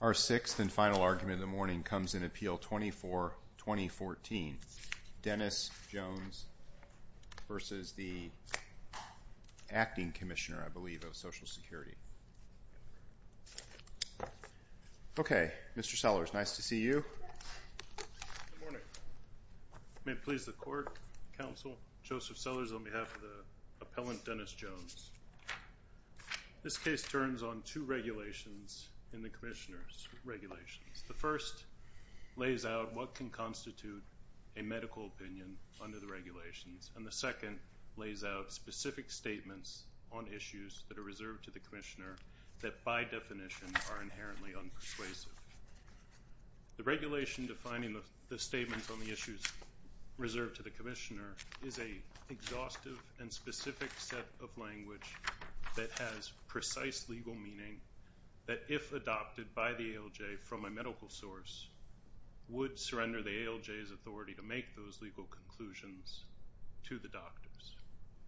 Our sixth and final argument of the morning comes in Appeal 24-2014. Dennis Jones v. the Acting Commissioner, I believe, of Social Security. Okay, Mr. Sellers, nice to see you. Good morning. May it please the Court, Counsel, Joseph Sellers on behalf of the appellant Dennis Jones. This case turns on two regulations in the Commissioner's regulations. The first lays out what can constitute a medical opinion under the regulations, and the second lays out specific statements on issues that are reserved to the Commissioner that by definition are inherently unpersuasive. The regulation defining the statements on the issues reserved to the Commissioner is an exhaustive and specific set of language that has precise legal meaning that if adopted by the ALJ from a medical source would surrender the ALJ's authority to make those legal conclusions to the doctors.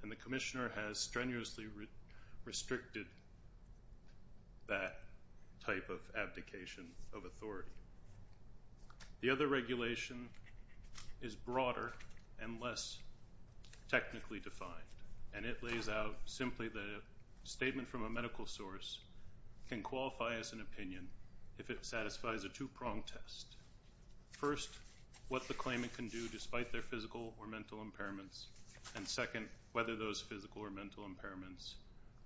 And the Commissioner has strenuously restricted that type of abdication of authority. The other regulation is broader and less technically defined, and it lays out simply that a statement from a medical source can qualify as an opinion if it satisfies a two-pronged test. First, what the claimant can do despite their physical or mental impairments, and second, whether those physical or mental impairments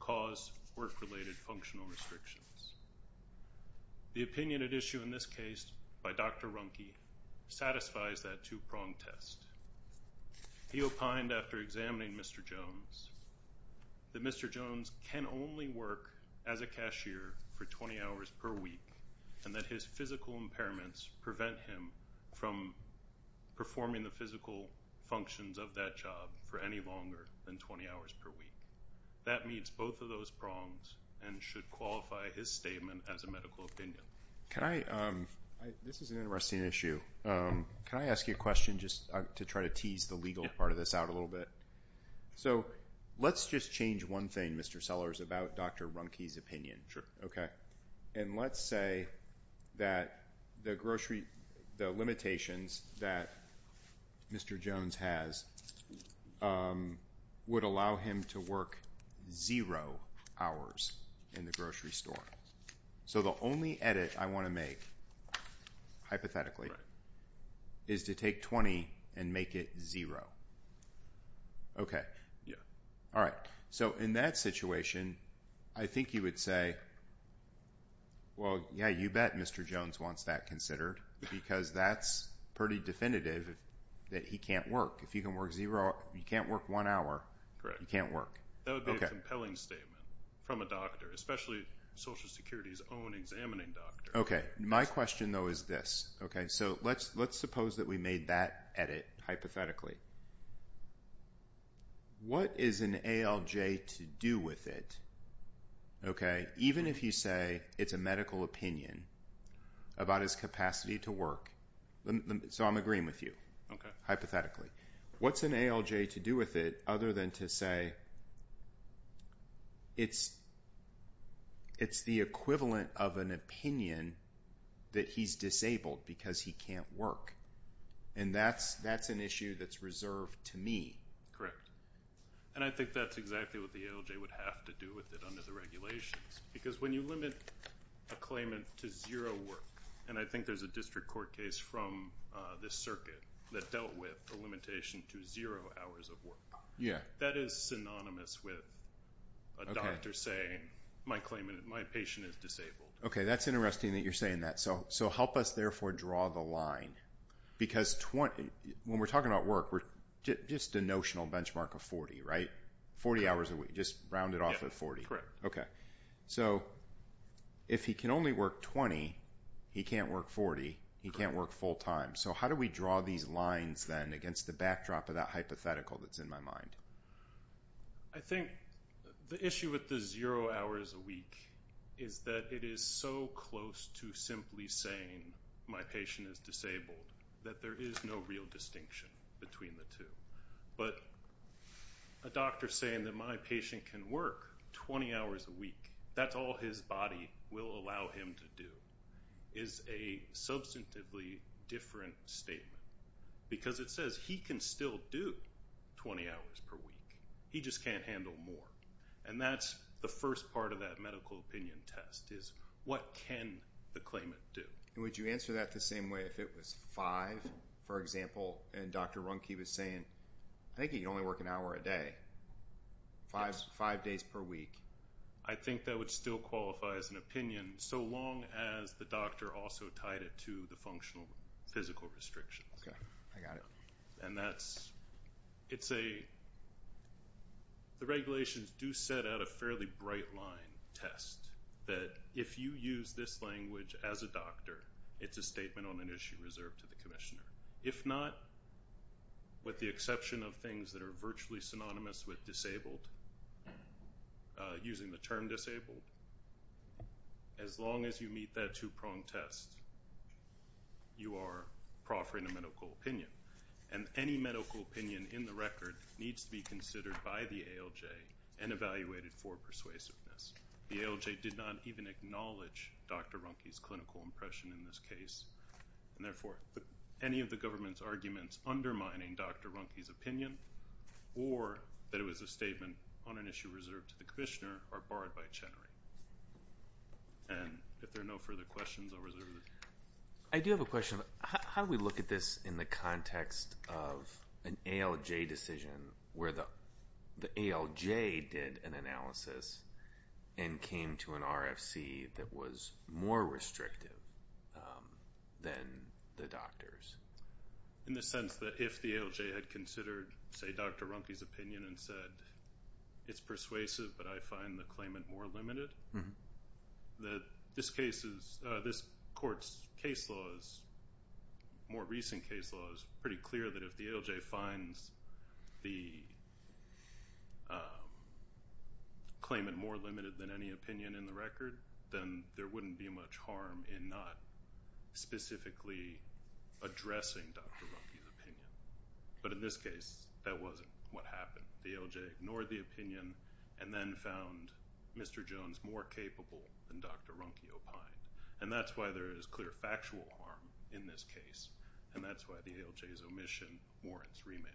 cause work-related functional restrictions. The opinion at issue in this case by Dr. Runke satisfies that two-pronged test. He opined after examining Mr. Jones that Mr. Jones can only work as a cashier for 20 hours per week and that his physical impairments prevent him from performing the physical functions of that job for any longer than 20 hours per week. That meets both of those prongs and should qualify his statement as a medical opinion. This is an interesting issue. Can I ask you a question just to try to tease the legal part of this out a little bit? So, let's just change one thing, Mr. Sellers, about Dr. Runke's opinion. Okay. And let's say that the limitations that Mr. Jones has would allow him to work zero hours in the grocery store. So, the only edit I want to make, hypothetically, is to take 20 and make it zero. Okay. All right. So, in that situation, I think you would say, well, yeah, you bet Mr. Jones wants that considered because that's pretty definitive that he can't work. If you can work zero, you can't work one hour, you can't work. That would be a compelling statement from a doctor, especially Social Security's own examining doctor. Okay. My question, though, is this. Okay. So, let's suppose that we made that edit, hypothetically. What is an ALJ to do with it, okay, even if you say it's a medical opinion about his capacity to work? So, I'm agreeing with you. Okay. Hypothetically. What's an ALJ to do with it other than to say it's the equivalent of an opinion that he's disabled because he can't work? And that's an issue that's reserved to me. Correct. And I think that's exactly what the ALJ would have to do with it under the regulations because when you limit a claimant to zero work, and I think there's a district court case from this circuit that dealt with a limitation to zero hours of work. Yeah. That is synonymous with a doctor saying my patient is disabled. Okay. That's interesting that you're saying that. So, help us, therefore, draw the line because when we're talking about work, we're just a notional benchmark of 40, right? 40 hours a week, just rounded off at 40. Correct. Okay. So, if he can only work 20, he can't work 40, he can't work full time. So, how do we draw these lines, then, against the backdrop of that hypothetical that's in my mind? I think the issue with the zero hours a week is that it is so close to simply saying my patient is disabled that there is no real distinction between the two. But a doctor saying that my patient can work 20 hours a week, that's all his body will allow him to do, is a substantively different statement because it says he can still do 20 hours per week. He just can't handle more. And that's the first part of that medical opinion test is what can the claimant do? And would you answer that the same way if it was five, for example, and Dr. Runke was saying, I think he can only work an hour a day, five days per week. I think that would still qualify as an opinion so long as the doctor also tied it to the functional physical restrictions. Okay. I got it. And that's, it's a, the regulations do set out a fairly bright line test that if you use this language as a doctor, it's a statement on an issue reserved to the commissioner. If not, with the exception of things that are virtually synonymous with disabled, using the term disabled, as long as you meet that two-pronged test, you are proffering a medical opinion. And any medical opinion in the record needs to be considered by the ALJ and evaluated for persuasiveness. The ALJ did not even acknowledge Dr. Runke's clinical impression in this case. And therefore, any of the government's arguments undermining Dr. Runke's opinion or that it was a statement on an issue reserved to the commissioner are barred by Chenery. And if there are no further questions, I'll reserve the floor. I do have a question. How do we look at this in the context of an ALJ decision where the ALJ did an analysis and came to an RFC that was more restrictive than the doctors? In the sense that if the ALJ had considered, say, Dr. Runke's opinion and said, it's persuasive, but I find the claimant more limited. That this court's more recent case law is pretty clear that if the ALJ finds the claimant more limited than any opinion in the record, then there wouldn't be much harm in not specifically addressing Dr. Runke's opinion. But in this case, that wasn't what happened. The ALJ ignored the opinion and then found Mr. Jones more capable than Dr. Runke opined. And that's why there is clear factual harm in this case, and that's why the ALJ's omission warrants remand.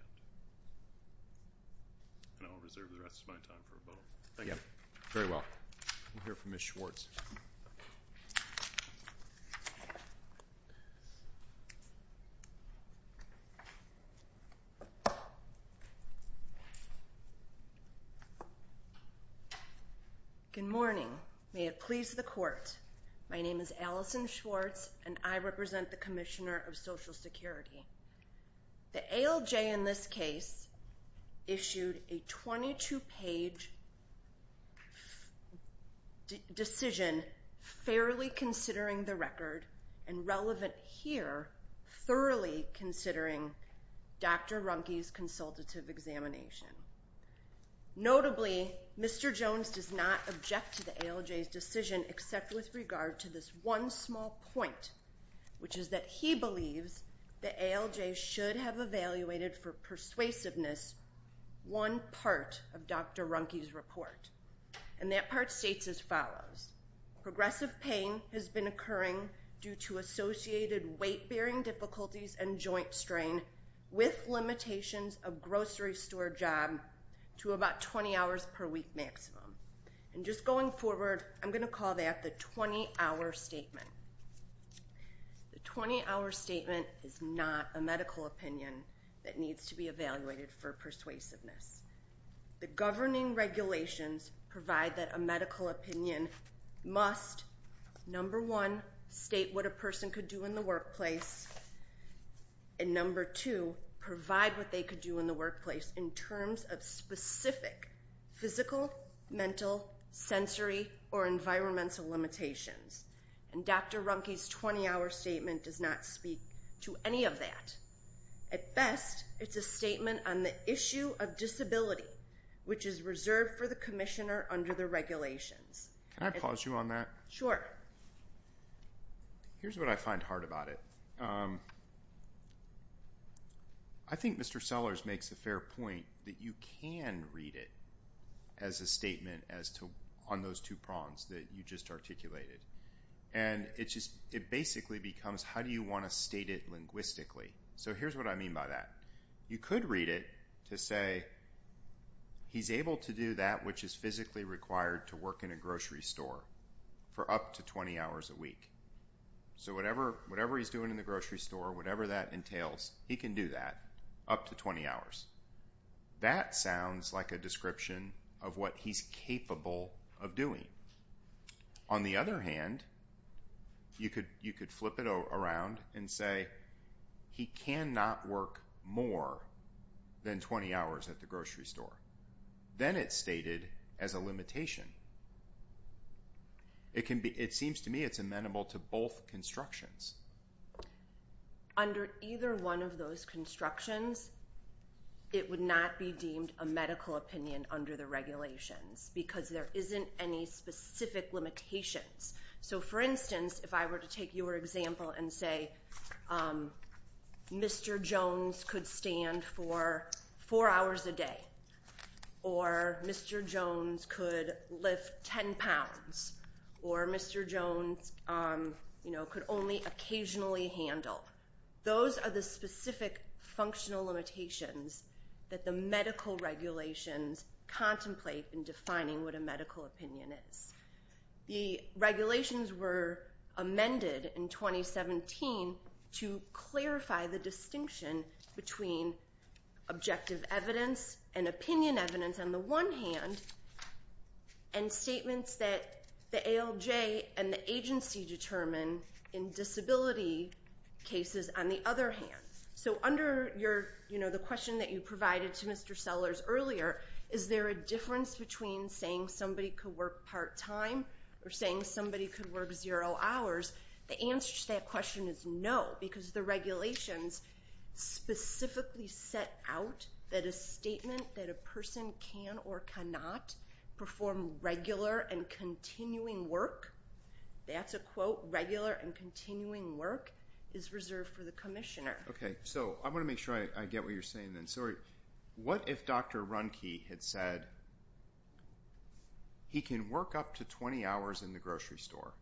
And I'll reserve the rest of my time for rebuttal. Thank you. Very well. We'll hear from Ms. Schwartz. Good morning. May it please the court. My name is Allison Schwartz, and I represent the Commissioner of Social Security. The ALJ in this case issued a 22-page decision fairly considering the record, and relevant here, thoroughly considering Dr. Runke's consultative examination. Notably, Mr. Jones does not object to the ALJ's decision except with regard to this one small point, which is that he believes the ALJ should have evaluated for persuasiveness one part of Dr. Runke's report. And that part states as follows. Progressive pain has been occurring due to associated weight-bearing difficulties and joint strain with limitations of grocery store job to about 20 hours per week maximum. And just going forward, I'm going to call that the 20-hour statement. The 20-hour statement is not a medical opinion that needs to be evaluated for persuasiveness. The governing regulations provide that a medical opinion must, number one, state what a person could do in the workplace, and number two, provide what they could do in the workplace in terms of specific physical, mental, sensory, or environmental limitations. And Dr. Runke's 20-hour statement does not speak to any of that. At best, it's a statement on the issue of disability, which is reserved for the commissioner under the regulations. Can I pause you on that? Here's what I find hard about it. I think Mr. Sellers makes a fair point that you can read it as a statement on those two prongs that you just articulated. And it basically becomes, how do you want to state it linguistically? So here's what I mean by that. You could read it to say, he's able to do that which is physically required to work in a grocery store for up to 20 hours a week. So whatever he's doing in the grocery store, whatever that entails, he can do that up to 20 hours. That sounds like a description of what he's capable of doing. On the other hand, you could flip it around and say, he cannot work more than 20 hours at the grocery store. Then it's stated as a limitation. It seems to me it's amenable to both constructions. Under either one of those constructions, it would not be deemed a medical opinion under the regulations because there isn't any specific limitations. So for instance, if I were to take your example and say, Mr. Jones could stand for four hours a day. Or Mr. Jones could lift 10 pounds. Or Mr. Jones could only occasionally handle. Those are the specific functional limitations that the medical regulations contemplate in defining what a medical opinion is. The regulations were amended in 2017 to clarify the distinction between objective evidence and opinion evidence on the one hand. And statements that the ALJ and the agency determine in disability cases on the other hand. So under the question that you provided to Mr. Sellers earlier, is there a difference between saying somebody could work part time or saying somebody could work zero hours? The answer to that question is no. Because the regulations specifically set out that a statement that a person can or cannot perform regular and continuing work. That's a quote, regular and continuing work is reserved for the commissioner. Okay, so I want to make sure I get what you're saying then. What if Dr. Runke had said he can work up to 20 hours in the grocery store?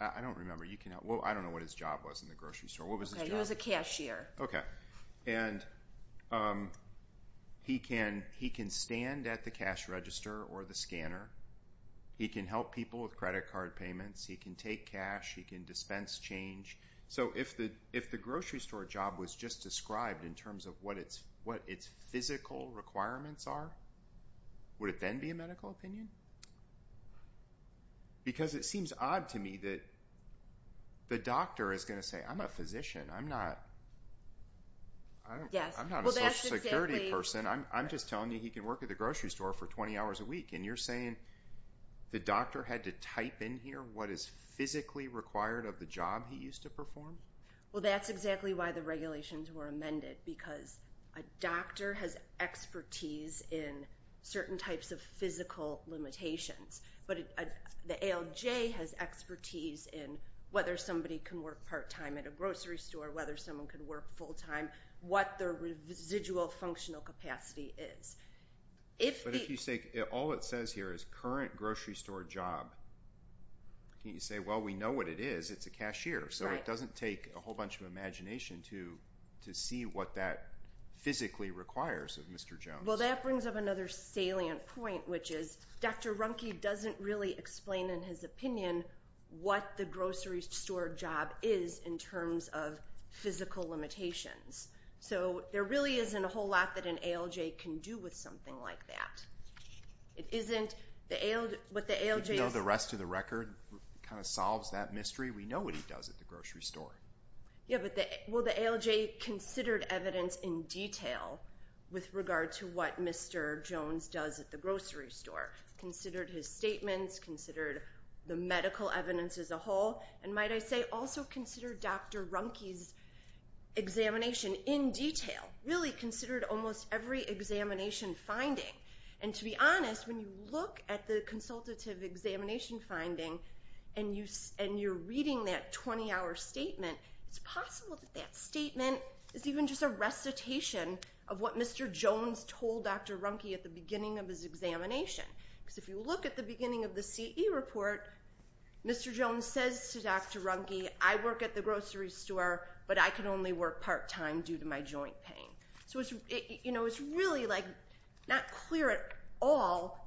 I don't remember. I don't know what his job was in the grocery store. He was a cashier. Okay. And he can stand at the cash register or the scanner. He can help people with credit card payments. He can take cash. He can dispense change. So if the grocery store job was just described in terms of what its physical requirements are, would it then be a medical opinion? Because it seems odd to me that the doctor is going to say, I'm a physician. I'm not a social security person. I'm just telling you he can work at the grocery store for 20 hours a week. And you're saying the doctor had to type in here what is physically required of the job he used to perform? Well, that's exactly why the regulations were amended, because a doctor has expertise in certain types of physical limitations. But the ALJ has expertise in whether somebody can work part-time at a grocery store, whether someone can work full-time, what their residual functional capacity is. But if you say all it says here is current grocery store job, can't you say, well, we know what it is. It's a cashier. So it doesn't take a whole bunch of imagination to see what that physically requires of Mr. Jones. Well, that brings up another salient point, which is Dr. Runke doesn't really explain in his opinion what the grocery store job is in terms of physical limitations. So there really isn't a whole lot that an ALJ can do with something like that. If you know the rest of the record, it kind of solves that mystery. We know what he does at the grocery store. Yeah, well, the ALJ considered evidence in detail with regard to what Mr. Jones does at the grocery store, considered his statements, considered the medical evidence as a whole, and might I say also considered Dr. Runke's examination in detail, really considered almost every examination finding. And to be honest, when you look at the consultative examination finding and you're reading that 20-hour statement, it's possible that that statement is even just a recitation of what Mr. Jones told Dr. Runke at the beginning of his examination. Because if you look at the beginning of the CE report, Mr. Jones says to Dr. Runke, I work at the grocery store, but I can only work part-time due to my joint pain. So it's really not clear at all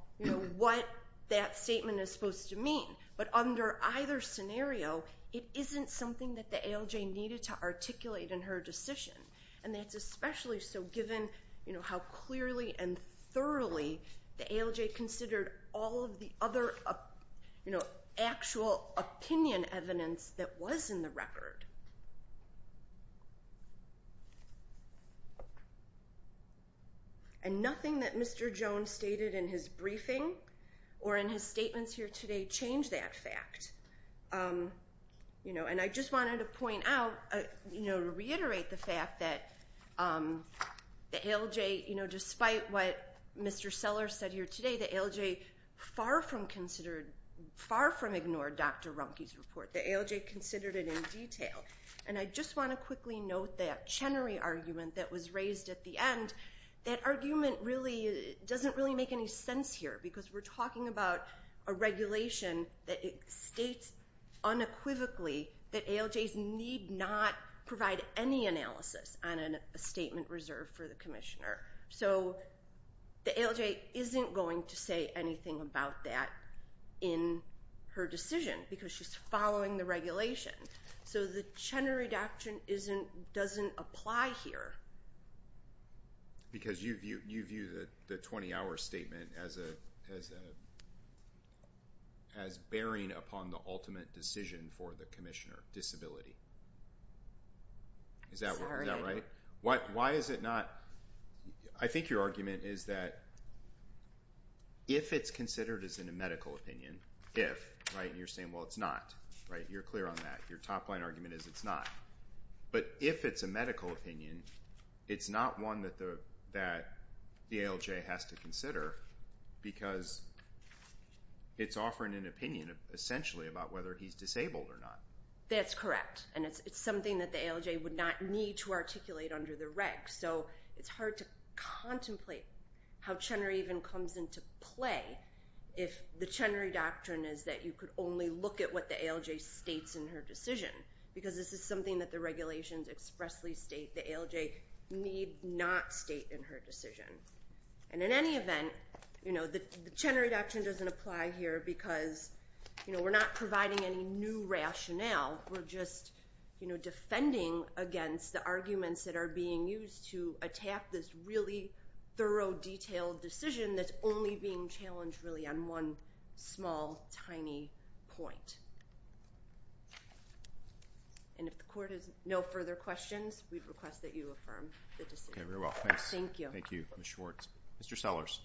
what that statement is supposed to mean. But under either scenario, it isn't something that the ALJ needed to articulate in her decision. And that's especially so given how clearly and thoroughly the ALJ considered all of the other actual opinion evidence that was in the record. And nothing that Mr. Jones stated in his briefing or in his statements here today changed that fact. And I just wanted to point out, reiterate the fact that the ALJ, despite what Mr. Seller said here today, the ALJ far from ignored Dr. Runke's report. The ALJ considered it in detail. And I just want to quickly note that Chenery argument that was raised at the end, that argument really doesn't really make any sense here because we're talking about a regulation that states unequivocally that ALJs need not provide any analysis on a statement reserved for the commissioner. So the ALJ isn't going to say anything about that in her decision because she's following the regulation. So the Chenery doctrine doesn't apply here. Because you view the 20-hour statement as bearing upon the ultimate decision for the commissioner, disability. Is that right? Why is it not? I think your argument is that if it's considered as in a medical opinion, if, right? And you're saying, well, it's not. You're clear on that. Your top line argument is it's not. But if it's a medical opinion, it's not one that the ALJ has to consider because it's offering an opinion essentially about whether he's disabled or not. That's correct. And it's something that the ALJ would not need to articulate under the reg. So it's hard to contemplate how Chenery even comes into play if the Chenery doctrine is that you could only look at what the ALJ states in her decision. Because this is something that the regulations expressly state the ALJ need not state in her decision. And in any event, the Chenery doctrine doesn't apply here because we're not providing any new rationale. We're just defending against the arguments that are being used to attack this really thorough, detailed decision that's only being challenged really on one small, tiny point. And if the court has no further questions, we request that you affirm the decision. Okay, very well. Thank you. Thank you, Ms. Schwartz. Mr. Sellers.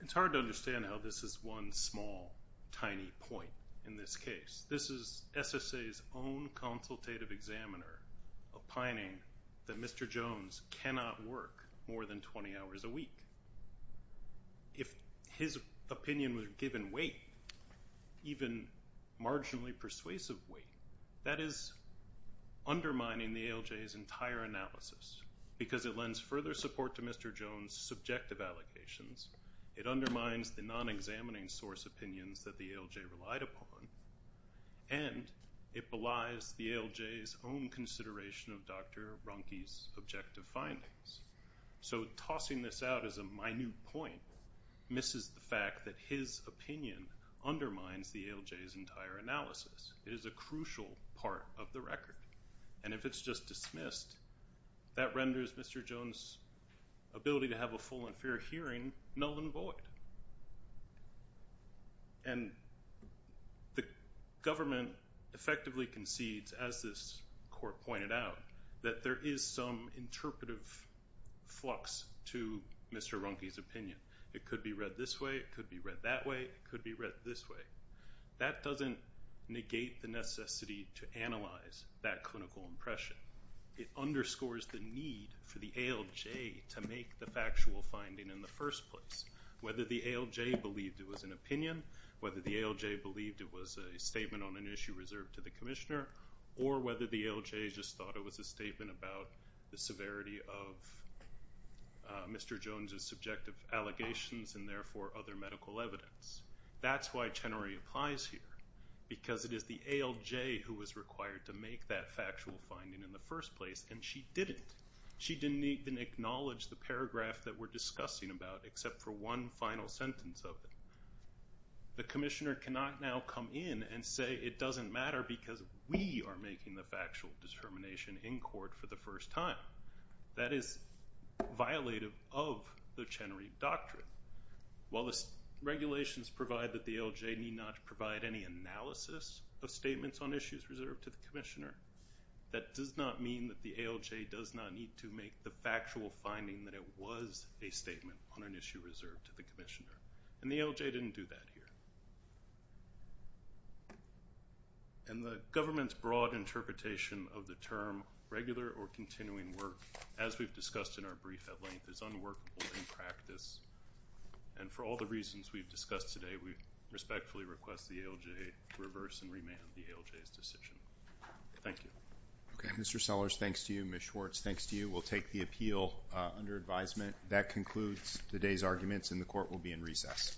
It's hard to understand how this is one small, tiny point in this case. This is SSA's own consultative examiner opining that Mr. Jones cannot work more than 20 hours a week. If his opinion was given weight, even marginally persuasive weight, that is undermining the ALJ's entire analysis. Because it lends further support to Mr. Jones' subjective allocations. It undermines the non-examining source opinions that the ALJ relied upon. And it belies the ALJ's own consideration of Dr. Ronke's objective findings. So tossing this out as a minute point misses the fact that his opinion undermines the ALJ's entire analysis. It is a crucial part of the record. And if it's just dismissed, that renders Mr. Jones' ability to have a full and fair hearing null and void. And the government effectively concedes, as this court pointed out, that there is some interpretive flux to Mr. Ronke's opinion. It could be read this way. It could be read that way. It could be read this way. That doesn't negate the necessity to analyze that clinical impression. It underscores the need for the ALJ to make the factual finding in the first place. Whether the ALJ believed it was an opinion, whether the ALJ believed it was a statement on an issue reserved to the commissioner, or whether the ALJ just thought it was a statement about the severity of Mr. Jones' subjective allegations, and therefore other medical evidence. That's why Chenery applies here. Because it is the ALJ who was required to make that factual finding in the first place, and she didn't. She didn't even acknowledge the paragraph that we're discussing about, except for one final sentence of it. The commissioner cannot now come in and say it doesn't matter because we are making the factual determination in court for the first time. That is violative of the Chenery Doctrine. While the regulations provide that the ALJ need not provide any analysis of statements on issues reserved to the commissioner, that does not mean that the ALJ does not need to make the factual finding that it was a statement on an issue reserved to the commissioner. And the ALJ didn't do that here. And the government's broad interpretation of the term regular or continuing work, as we've discussed in our brief at length, is unworkable in practice. And for all the reasons we've discussed today, we respectfully request the ALJ reverse and remand the ALJ's decision. Thank you. Okay. Mr. Sellers, thanks to you. Ms. Schwartz, thanks to you. We'll take the appeal under advisement. That concludes today's arguments, and the court will be in recess.